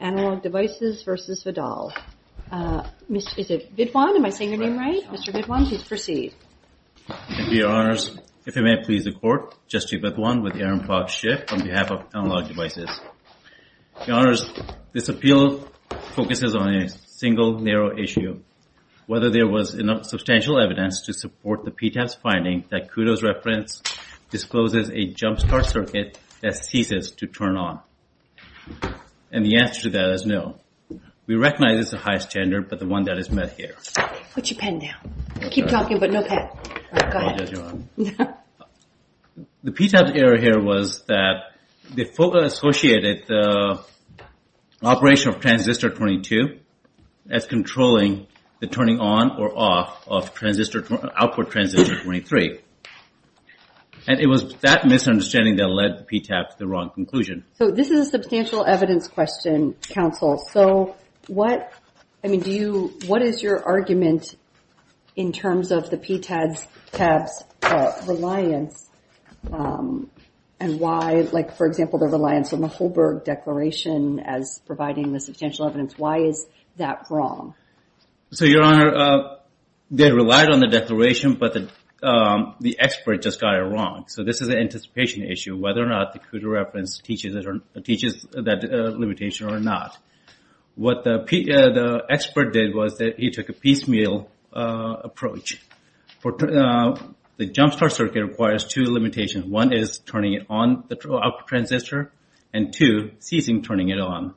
Mr. Vidwan, am I saying your name right? Mr. Vidwan, please proceed. Thank you, Your Honors. If it may please the Court, Justice Vidwan, with Aaron Clark Schiff, on behalf of Analog Devices. Your Honors, this appeal focuses on a single, narrow issue, whether there was enough substantial evidence to support the PTAS finding that Kudo's reference discloses a jumpstart circuit that ceases to turn on. And the answer to that is no. We recognize it's a high standard, but the one that is met here. The PTAS error here was that the FOCA associated the operation of transistor 22 as controlling the turning on or off of output transistor 23. And it was that misunderstanding that led PTAS to the wrong conclusion. So this is a substantial evidence question, counsel. So what is your argument in terms of the PTAS reliance and why, like for example the reliance on the Holberg Declaration as providing the substantial evidence, why is that wrong? So Your Honor, they relied on the declaration, but the expert just got it wrong. So this is an anticipation issue, whether or not the Kudo reference teaches that limitation or not. What the expert did was that he took a piecemeal approach. The jumpstart circuit requires two limitations. One is turning it on, the output transistor. And two, ceasing turning it on.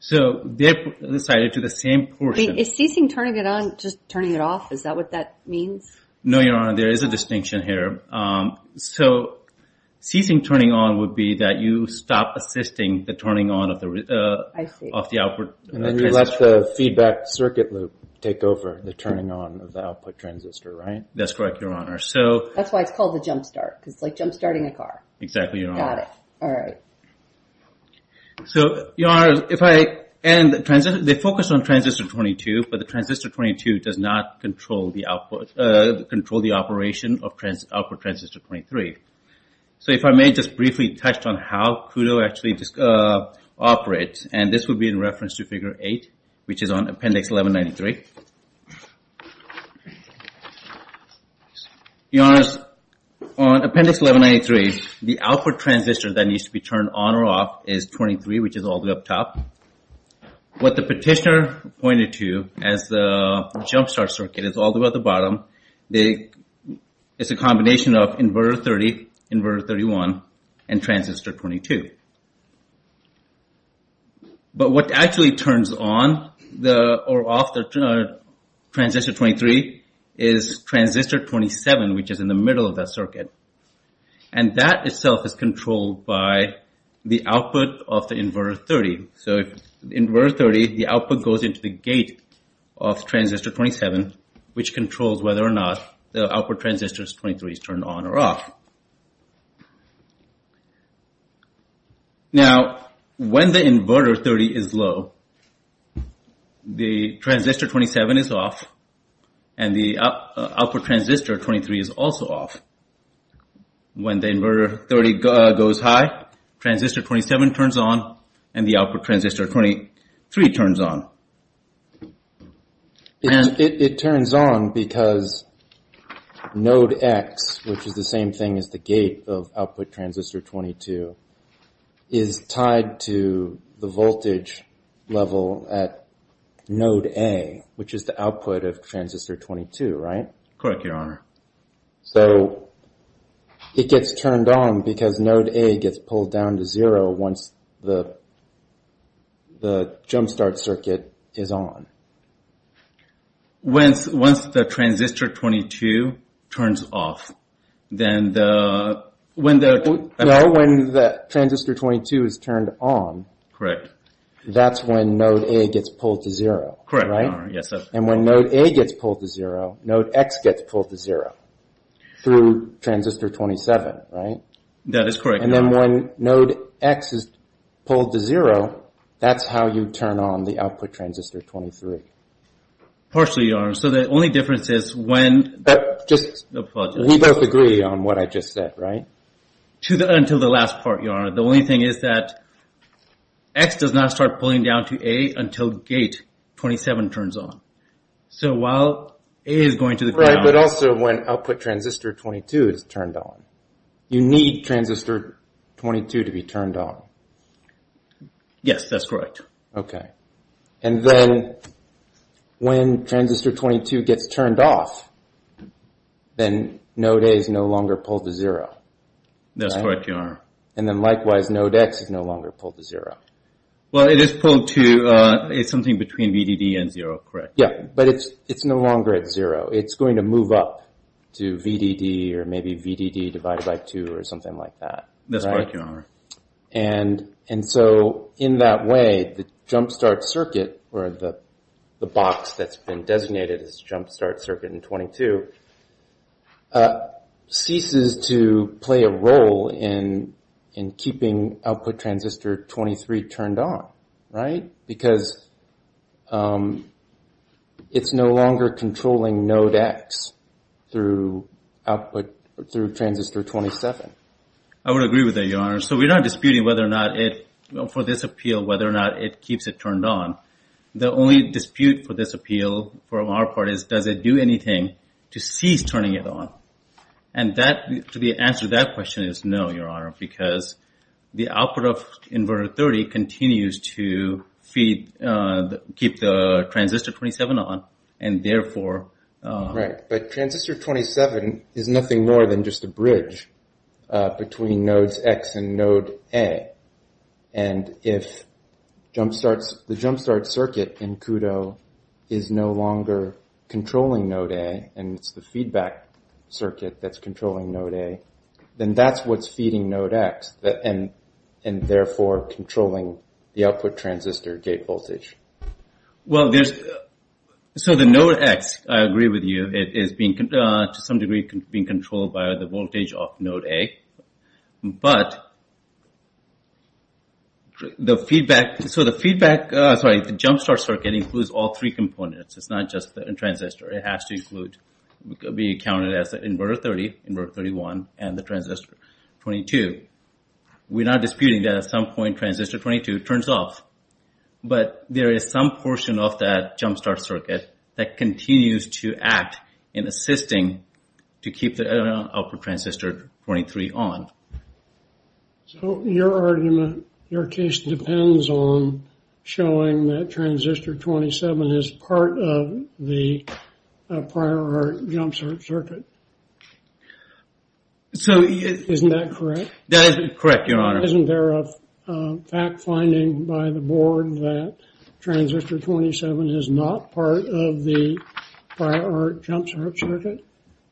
So they decided to the same portion. Wait, is ceasing turning it on just turning it off? Is that what that means? No, Your Honor, there is a distinction here. So ceasing turning on would be that you stop assisting the turning on of the output transistor. And then you let the feedback circuit loop take over the turning on of the output transistor, right? That's correct, Your Honor. That's why it's called the jumpstart, because it's like jumpstarting a car. Exactly, Your Honor. Got it. All right. So Your Honor, if I, and the transistor, they focused on transistor 22, but the transistor 22 does not control the output, control the operation of output transistor 23. So if I may just briefly touch on how Kudo actually operates, and this would be in reference to Figure 8, which is on Appendix 1193. Your Honor, on Appendix 1193, the output transistor that needs to be turned on or off is 23, which is all the way up top. What the petitioner pointed to as the jumpstart circuit is all the way at the bottom. It's a combination of inverter 30, inverter 31, and transistor 22. But what actually turns on or off the output transistor 23 is transistor 27, which is in the middle of that circuit. And that itself is controlled by the output of the inverter 30. So if inverter 30, the output goes into the gate of transistor 27, which controls whether or not the output transistor 23 is turned on or off. Now, when the inverter 30 is low, the transistor 27 is off, and the output transistor 23 is also off. When the inverter 30 goes high, transistor 27 turns on, and the output transistor 23 turns on. It turns on because node X, which is the same thing as the gate of output transistor 22, is tied to the voltage level at node A, which is the output of transistor 22, right? Correct, Your Honor. So it gets turned on because node A gets pulled down to zero once the jumpstart circuit is on. Once the transistor 22 turns off, then the No, when the transistor 22 is turned on, that's when node A gets pulled to zero, right? And when node A gets pulled to zero, node X gets pulled to zero through transistor 27, right? That is correct, Your Honor. And then when node X is pulled to zero, that's how you turn on the output transistor 23. Partially, Your Honor. So the only difference is when We both agree on what I just said, right? Until the last part, Your Honor. The only thing is that X does not start pulling down to A until gate 27 turns on. So while A is going to the ground Right, but also when output transistor 22 is turned on. You need transistor 22 to be turned on. Yes, that's correct. Okay. And then when transistor 22 gets turned off, then node A is no longer pulled to zero. That's correct, Your Honor. And then likewise, node X is no longer pulled to zero. Well, it is pulled to, it's something between VDD and zero, correct? Yeah, but it's no longer at zero. It's going to move up to VDD or maybe VDD divided by two or something like that, right? That's correct, Your Honor. And so in that way, the jumpstart circuit or the box that's been designated as jumpstart circuit in 22 ceases to play a role in keeping output transistor 23 turned on, right? Because it's no longer controlling node X through output, through transistor 27. I would agree with that, Your Honor. So we're not disputing whether or not it, for this appeal, whether or not it keeps it turned on. The only dispute for this appeal from our part is does it do anything to cease turning it on? And that, to the answer to that question is no, Your Honor, because the output of inverter 30 continues to feed, keep the transistor 27 on and therefore... Right, but transistor 27 is nothing more than just a bridge between nodes X and node A. And if jumpstarts, the jumpstart circuit in CUDO is no longer controlling node A and it's the feedback circuit that's controlling node A, then that's what's feeding node X and therefore controlling the output transistor gate voltage. Well, there's... So the node X, I agree with you, is being, to some degree, being controlled by the voltage of node A. But the feedback... So the feedback, sorry, the jumpstart circuit includes all three components. It's not just a transistor. It has to include, be counted as inverter 30, inverter 31, and the transistor 22. We're not disputing that at some point transistor 22 turns off. But there is some portion of that jumpstart circuit that continues to act in assisting to keep the output transistor 23 on. So your argument, your case depends on showing that transistor 27 is part of the prior art jumpstart circuit. Isn't that correct? That is correct, your honor. Isn't there a fact finding by the board that transistor 27 is not part of the prior art jumpstart circuit?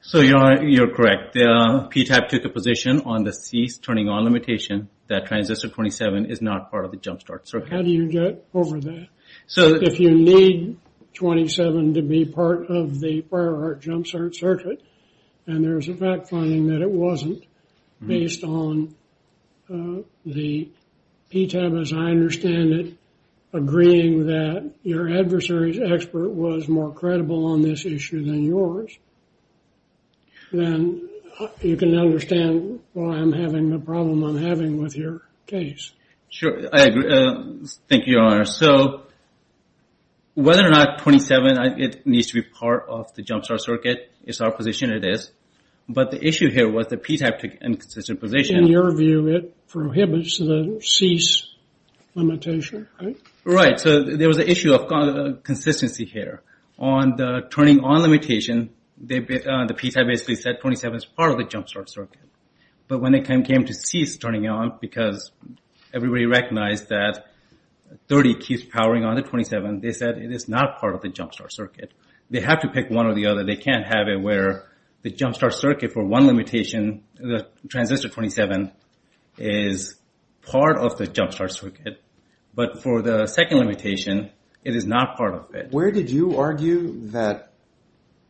So your honor, you're correct. PTAP took a position on the C's turning on limitation that transistor 27 is not part of the jumpstart circuit. How do you get over that? So if you need 27 to be part of the prior art jumpstart circuit and there's a fact finding that it wasn't based on the PTAP, as I understand it, agreeing that your adversary's expert was more credible on this issue than yours, then you can understand why I'm having the problem I'm having with your case. Sure, I agree. Thank you, your honor. So whether or not 27 needs to be part of the jumpstart circuit is our position, it is. But the issue here was the PTAP took an inconsistent position. In your view, it prohibits the C's limitation, right? Right. So there was an issue of consistency here. On the turning on limitation, the PTAP basically said 27 is part of the jumpstart circuit. But when it came to C's turning on, because everybody recognized that 30 keeps powering on to 27, they said it is not part of the jumpstart circuit. They have to pick one or the other. They can't have it where the jumpstart circuit for one limitation, the transistor 27, is part of the jumpstart circuit. But for the second limitation, it is not part of it. Where did you argue that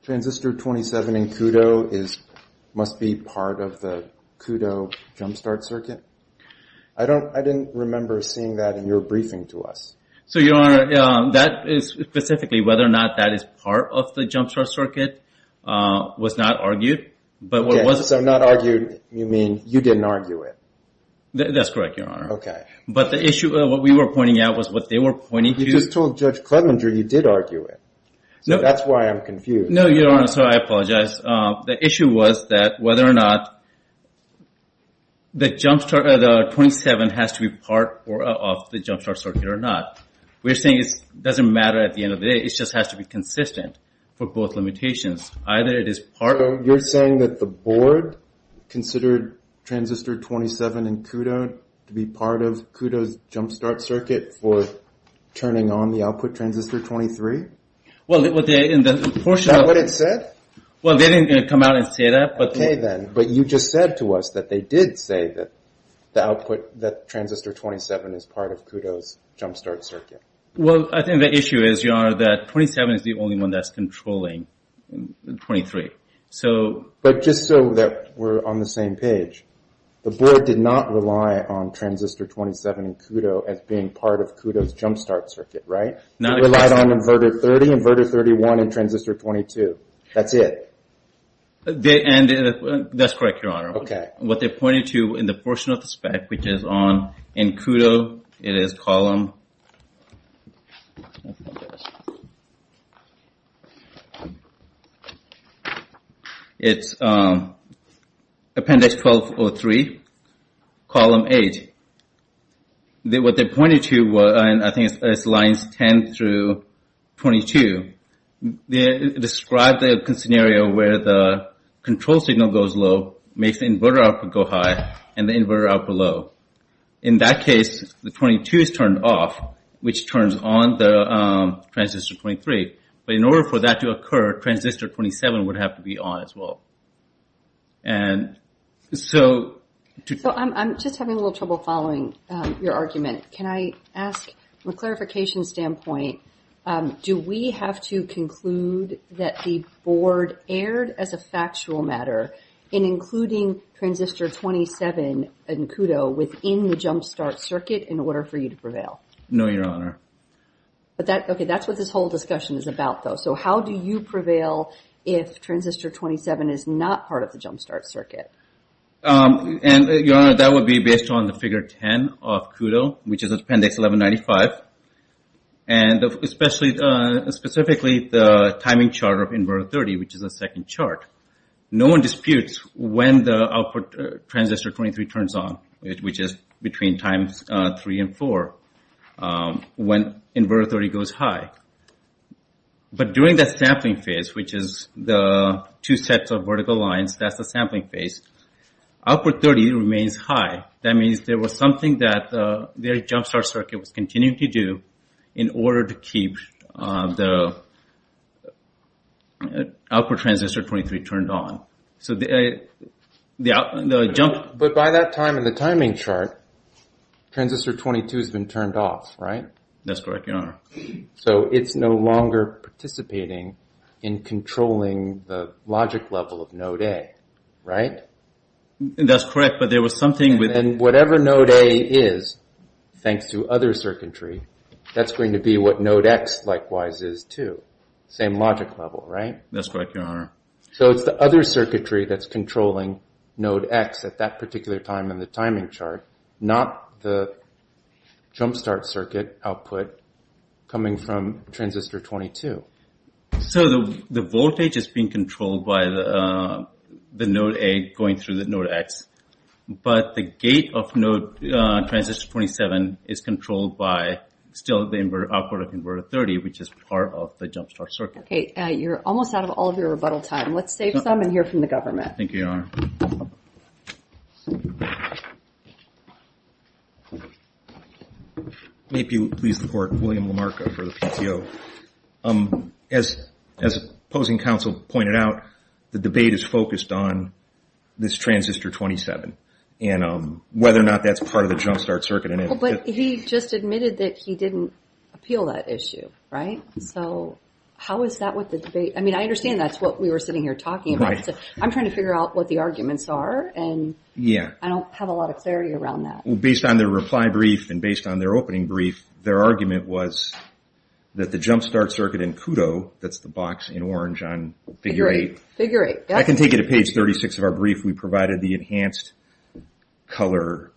transistor 27 in KUDO must be part of the KUDO jumpstart circuit? I didn't remember seeing that in your briefing to us. So your honor, that is specifically whether or not that is part of the jumpstart circuit was not argued. So not argued, you mean you didn't argue it? That's correct, your honor. But the issue of what we were pointing out was what they were pointing to- But you just told Judge Clevenger you did argue it. So that's why I'm confused. No, your honor, so I apologize. The issue was whether or not the jumpstart, the 27 has to be part of the jumpstart circuit or not. We're saying it doesn't matter at the end of the day. It just has to be consistent for both limitations. Either it is part- So you're saying that the board considered transistor 27 in KUDO to be part of KUDO's non-output transistor 23? Is that what it said? Well, they didn't come out and say that. Okay then, but you just said to us that they did say that the output, that transistor 27 is part of KUDO's jumpstart circuit. Well, I think the issue is, your honor, that 27 is the only one that's controlling 23. But just so that we're on the same page, the board did not rely on transistor 27 in KUDO as being part of KUDO's jumpstart circuit, right? They relied on inverter 30, inverter 31, and transistor 22. That's it. That's correct, your honor. What they pointed to in the portion of the spec, which is on in KUDO, it is column... It's appendix 1203, column 8. What they pointed to was, I think it's lines 10 through 22. They described the scenario where the control signal goes low, makes the inverter output go high, and the inverter output low. In that case, the 22 is turned off, which turns on the transistor 23. But in order for that to occur, transistor 27 would have to be on as well. And so... So I'm just having a little trouble following your argument. Can I ask, from a clarification standpoint, do we have to conclude that the board erred, as a factual matter, in including transistor 27 in KUDO within the jumpstart circuit in order for you to prevail? No, your honor. But that... Okay, that's what this whole discussion is about, though. So how do you prevail if transistor 27 is not part of the jumpstart circuit? And, your honor, that would be based on the figure 10 of KUDO, which is appendix 1195. And especially, specifically, the timing chart of inverter 30, which is the second chart. No one disputes when the output transistor 23 turns on, which is between times three and four, when inverter 30 goes high. But during that sampling phase, which is the two sets of vertical lines, that's the sampling phase, output 30 remains high. That means there was something that the jumpstart circuit was continuing to do in order to keep the output transistor 23 turned on. So the jump... But by that time in the timing chart, transistor 22 has been turned off, right? That's correct, your honor. So it's no longer participating in controlling the logic level of node A, right? That's correct, but there was something with... And whatever node A is, thanks to other circuitry, that's going to be what node X likewise is too. Same logic level, right? That's correct, your honor. So it's the other circuitry that's controlling node X at that particular time in the timing chart, not the jumpstart circuit output coming from transistor 22. So the voltage is being controlled by the node A going through the node X, but the gate of node transistor 27 is controlled by still the output of inverter 30, which is part of the jumpstart circuit. Okay, you're almost out of all of your rebuttal time. Let's save some and hear from the government. Thank you, your honor. May it please the court, William Lamarca for the PTO. As opposing counsel pointed out, the debate is focused on this transistor 27, and whether or not that's part of the jumpstart circuit. But he just admitted that he didn't appeal that issue, right? So how is that with the debate? I mean, I understand that's what we were sitting here talking about. I'm trying to figure out what the arguments are, and I don't have a lot of clarity around that. Based on their reply brief and based on their opening brief, their argument was that the jumpstart circuit in KUDO, that's the box in orange on figure 8, I can take you to page 36 of our brief. We provided the enhanced color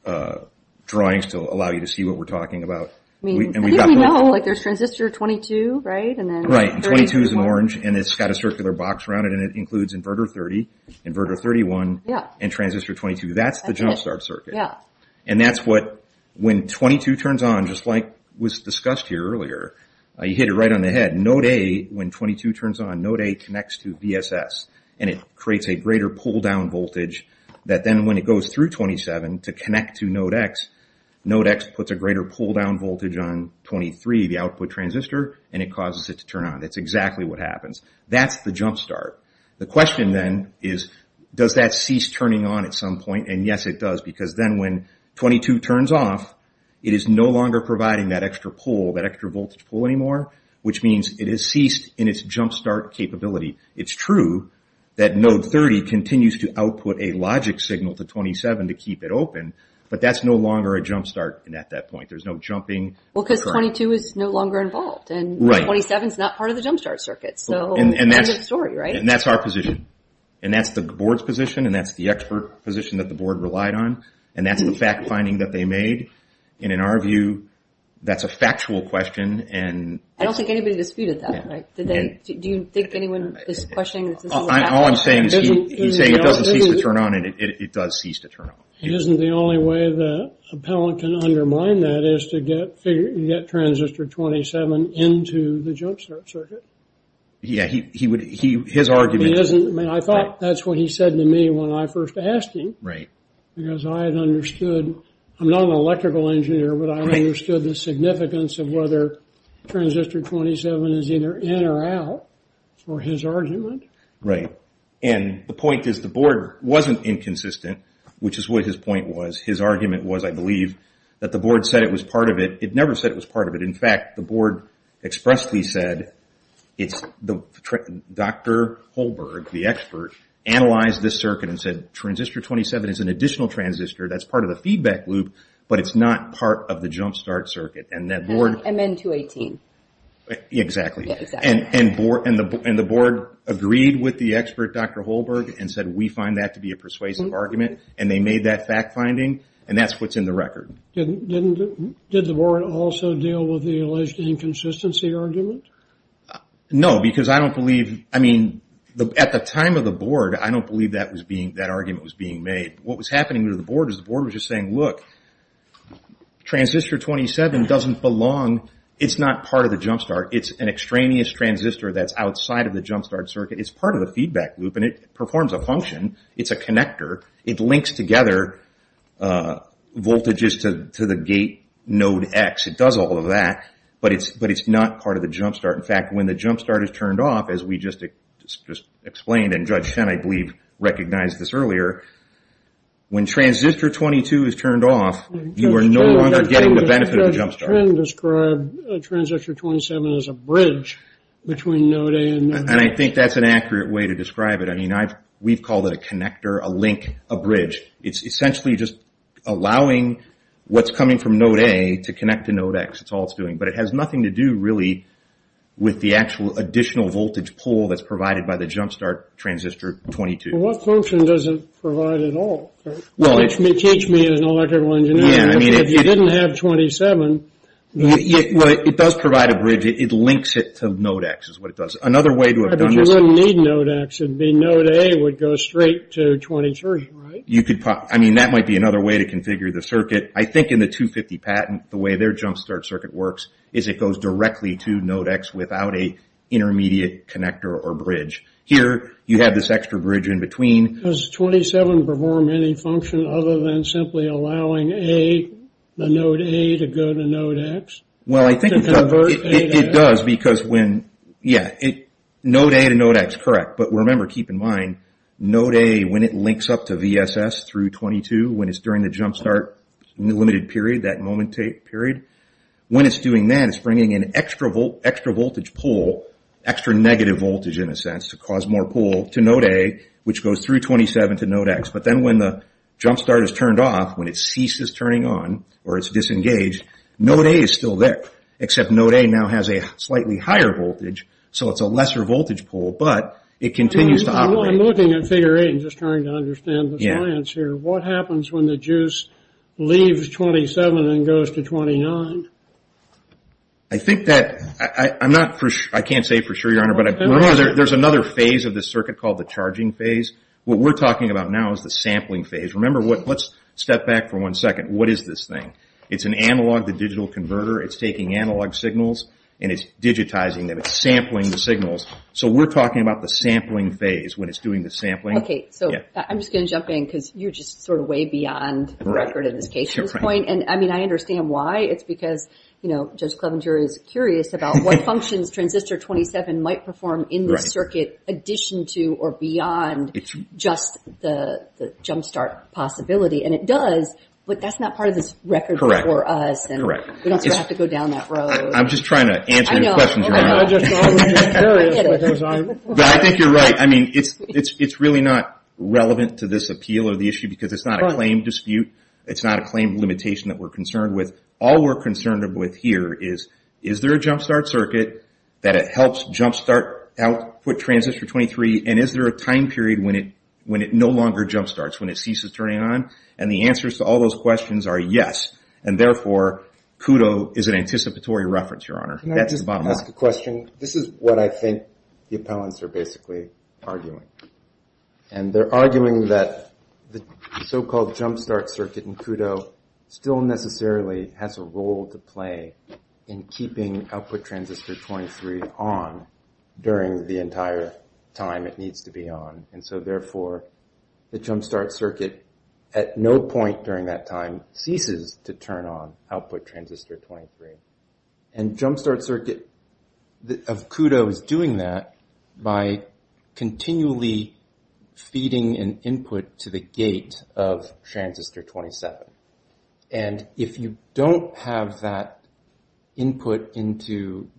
drawings to allow you to see what we're talking about. I think we know, like there's transistor 22, right? Right, and 22 is in orange, and it's got a circular box around it, and it includes inverter 30, inverter 31, and transistor 22. That's the jumpstart circuit. And that's what, when 22 turns on, just like was discussed here earlier, you hit it right on the head. Node A, when 22 turns on, node A connects to VSS, and it creates a greater pull-down voltage that then when it goes through 27 to connect to node X, node X puts a greater pull-down voltage on 23, the output transistor, and it causes it to turn on. That's exactly what happens. That's the jumpstart. The question then is, does that cease turning on at some point? And yes, it does, because then when 22 turns off, it is no longer providing that extra pull, that extra voltage pull anymore, which means it has ceased in its jumpstart capability. It's true that node 30 continues to output a logic signal to 27 to keep it open, but that's no longer a jumpstart at that point. There's no jumping. Well, because 22 is no longer involved, and 27 is not part of the jumpstart circuit, so end of story, right? And that's our position, and that's the board's position, and that's the expert position that the board relied on, and that's the fact-finding that they made, and in our view, that's a factual question, and... I don't think anybody disputed that, right? Do you think anyone is questioning that this is a fact? All I'm saying is he's saying it doesn't cease to turn on, and it does cease to turn on. Isn't the only way the appellant can undermine that is to get transistor 27 into the jumpstart circuit? Yeah, he would... His argument... I thought that's what he said to me when I first asked him, because I had understood... I'm not an electrical engineer, but I understood the significance of whether transistor 27 is either in or out for his argument. Right, and the point is the board wasn't inconsistent, which is what his point was. His argument was, I believe, that the board said it was part of it. It never said it was part of it. In fact, the board expressly said, Dr. Holberg, the expert, analyzed this circuit and said transistor 27 is an additional transistor that's part of the feedback loop, but it's not part of the jumpstart circuit, and that board... MN218. Exactly. Yeah, exactly. And the board agreed with the expert, Dr. Holberg, and said we find that to be a persuasive argument, and they made that fact-finding, and that's what's in the record. Did the board also deal with the alleged inconsistency argument? No, because I don't believe... At the time of the board, I don't believe that argument was being made. What was happening to the board was the board was just saying, look, transistor 27 doesn't belong... It's not part of the jumpstart. It's an extraneous transistor that's outside of the jumpstart circuit. It's part of the feedback loop, and it performs a function. It's a connector. It links together voltages to the gate node X. It does all of that, but it's not part of the jumpstart. In fact, when the jumpstart is turned off, as we just explained, and Judge Shen, I believe, recognized this earlier, when transistor 22 is turned off, you are no longer getting the benefit of the jumpstart. Judge Shen described transistor 27 as a bridge between node A and node X. I think that's an accurate way to describe it. We've called it a connector, a link, a bridge. It's essentially just allowing what's coming from node A to connect to node X. That's all it's doing. But it has nothing to do, really, with the actual additional voltage pull that's provided by the jumpstart transistor 22. What function does it provide at all? Teach me as an electrical engineer. If you didn't have 27... It does provide a bridge. It links it to node X, is what it does. Another way to have done this... But you wouldn't need node X. It would be node A would go straight to 23, right? You could... I mean, that might be another way to configure the circuit. I think in the 250 patent, the way their jumpstart circuit works is it goes directly to node X without an intermediate connector or bridge. Here you have this extra bridge in between. Does 27 perform any function other than simply allowing the node A to go to node X? Well, I think it does. To convert A to X? It does. Because when... Yeah. Node A to node X, correct. But remember, keep in mind, node A, when it links up to VSS through 22, when it's during the jumpstart limited period, that moment period, when it's doing that, it's bringing an extra voltage pull, extra negative voltage, in a sense, to cause more pull to node A, which goes through 27 to node X. But then when the jumpstart is turned off, when it ceases turning on, or it's disengaged, node A is still there, except node A now has a slightly higher voltage, so it's a lesser voltage pull, but it continues to operate. I'm looking at figure 8 and just trying to understand the science here. What happens when the juice leaves 27 and goes to 29? I think that... I'm not for sure... I can't say for sure, Your Honor, but there's another phase of the circuit called the charging phase. What we're talking about now is the sampling phase. Remember what... Let's step back for one second. What is this thing? It's an analog-to-digital converter. It's taking analog signals, and it's digitizing them. It's sampling the signals. So we're talking about the sampling phase, when it's doing the sampling. Okay. So I'm just going to jump in, because you're just sort of way beyond the record at this case at this point. And I mean, I understand why. It's because, you know, Judge Clevenger is curious about what functions transistor 27 might perform in the circuit, addition to or beyond just the jumpstart possibility. And it does, but that's not part of this record for us. Correct. We don't have to go down that road. I'm just trying to answer your question, Your Honor. I get it. But I think you're right. I mean, it's really not relevant to this appeal or the issue, because it's not a claim dispute. It's not a claim limitation that we're concerned with. All we're concerned with here is, is there a jumpstart circuit that helps jumpstart output transistor 23, and is there a time period when it no longer jumpstarts, when it ceases turning on? And the answers to all those questions are yes, and therefore, KUDO is an anticipatory reference, Your Honor. That's the bottom line. Can I just ask a question? This is what I think the appellants are basically arguing. And they're arguing that the so-called jumpstart circuit in KUDO still necessarily has a role to play in keeping output transistor 23 on during the entire time it needs to be on. And so therefore, the jumpstart circuit at no point during that time ceases to turn on output transistor 23. And jumpstart circuit of KUDO is doing that by continually feeding an input to the gate of transistor 27. And if you don't have that input into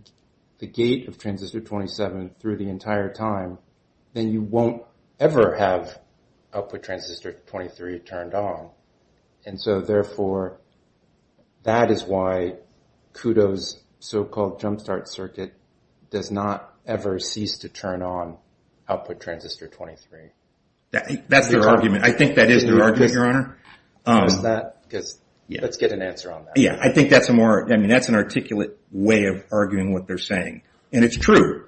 the gate of transistor 27 through the entire time, then you won't ever have output transistor 23 turned on. And so therefore, that is why KUDO's so-called jumpstart circuit does not ever cease to turn on output transistor 23. That's their argument. I think that is their argument, Your Honor. Let's get an answer on that. I think that's an articulate way of arguing what they're saying. And it's true.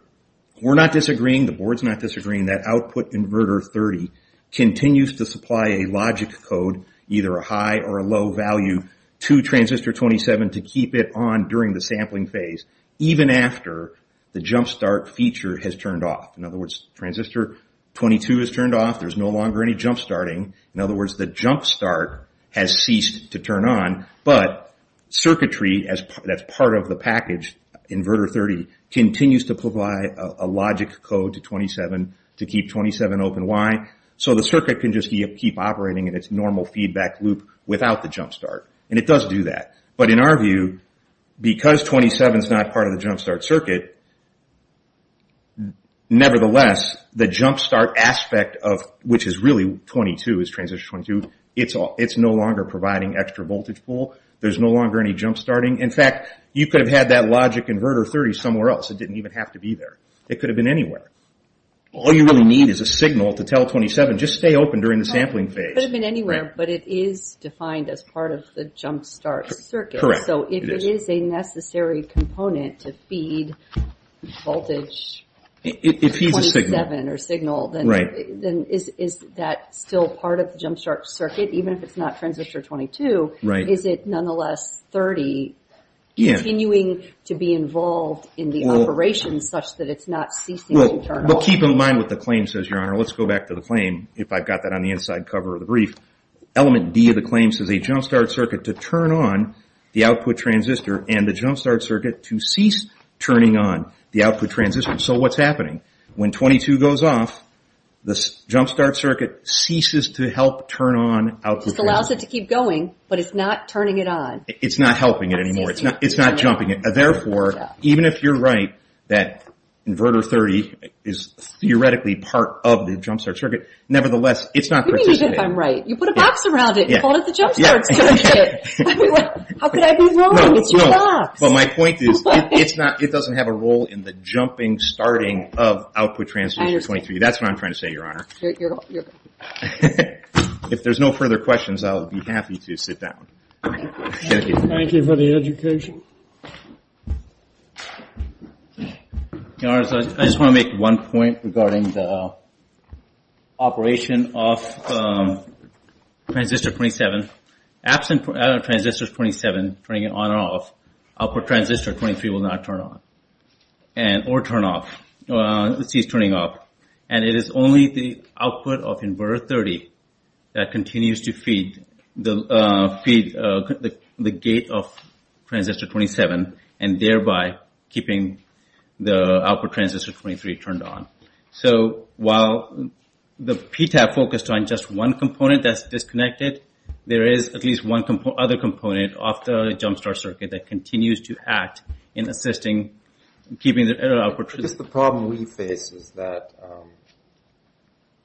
We're not disagreeing. The Board's not disagreeing that output inverter 30 continues to supply a logic code either a high or a low value to transistor 27 to keep it on during the sampling phase, even after the jumpstart feature has turned off. In other words, transistor 22 is turned off. There's no longer any jumpstarting. In other words, the jumpstart has ceased to turn on. But circuitry that's part of the package, inverter 30, continues to provide a logic code to 27 to keep 27 open. Why? So the circuit can just keep operating in its normal feedback loop without the jumpstart. And it does do that. But in our view, because 27 is not part of the jumpstart circuit, nevertheless, the jumpstart aspect of, which is really 22, is transistor 22. It's no longer providing extra voltage pool. There's no longer any jumpstarting. In fact, you could have had that logic inverter 30 somewhere else. It didn't even have to be there. It could have been anywhere. All you really need is a signal to tell 27, just stay open during the sampling phase. It could have been anywhere, but it is defined as part of the jumpstart circuit. Correct. So if it is a necessary component to feed voltage 27 or signal, then is that still part of the jumpstart circuit, even if it's not transistor 22? Right. Is it nonetheless 30 continuing to be involved in the operation such that it's not ceasing to turn on? Well, keep in mind what the claim says, Your Honor. Let's go back to the claim, if I've got that on the inside cover of the brief. Element D of the claim says a jumpstart circuit to turn on the output transistor and a jumpstart circuit to cease turning on the output transistor. So what's happening? When 22 goes off, the jumpstart circuit ceases to help turn on output transistor. Just allows it to keep going, but it's not turning it on. It's not helping it anymore. It's not jumping it. Therefore, even if you're right that inverter 30 is theoretically part of the jumpstart circuit, nevertheless, it's not participating. What do you mean if I'm right? You put a box around it and called it the jumpstart circuit. How could I be wrong? It's your box. But my point is it doesn't have a role in the jumping, starting of output transistor 23. That's what I'm trying to say, Your Honor. If there's no further questions, I'll be happy to sit down. Thank you for the education. Your Honor, I just want to make one point regarding the operation of transistor 27. Absent out of transistor 27, turning it on or off, output transistor 23 will not turn on or turn off, cease turning off. And it is only the output of inverter 30 that continues to feed the gate of transistor 27 and thereby keeping the output transistor 23 turned on. So while the PTAP focused on just one component that's disconnected, there is at least one other component of the jumpstart circuit that continues to act in assisting, keeping the output transistor... Just the problem we face is that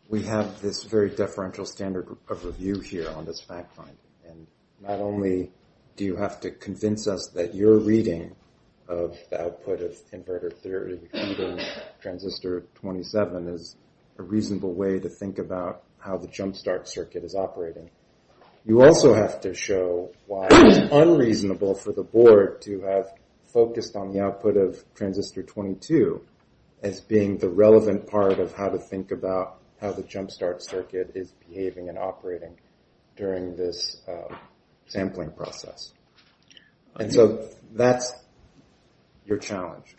we have this very deferential standard of review here on this fact finding. And not only do you have to convince us that your reading of the output of inverter 30 feeding transistor 27 is a reasonable way to think about how the jumpstart circuit is operating, you also have to show why it's unreasonable for the board to have focused on the output of transistor 22 as being the relevant part of how to think about how the jumpstart circuit is behaving and operating during this sampling process. And so that's your challenge.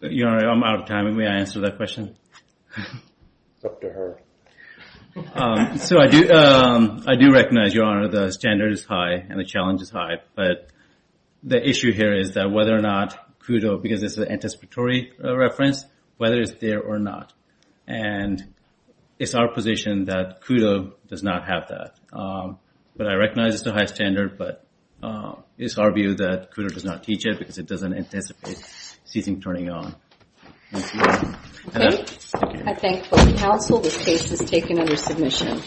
Your Honor, I'm out of time. May I answer that question? It's up to her. So I do recognize, Your Honor, the standard is high and the challenge is high, but the issue here is that whether or not CUDO, because this is an anticipatory reference, whether it's there or not. And it's our position that CUDO does not have that. But I recognize it's a high standard, but it's our view that CUDO does not teach it because it doesn't anticipate something turning on. Okay. I thank both counsel. This case is taken under submission.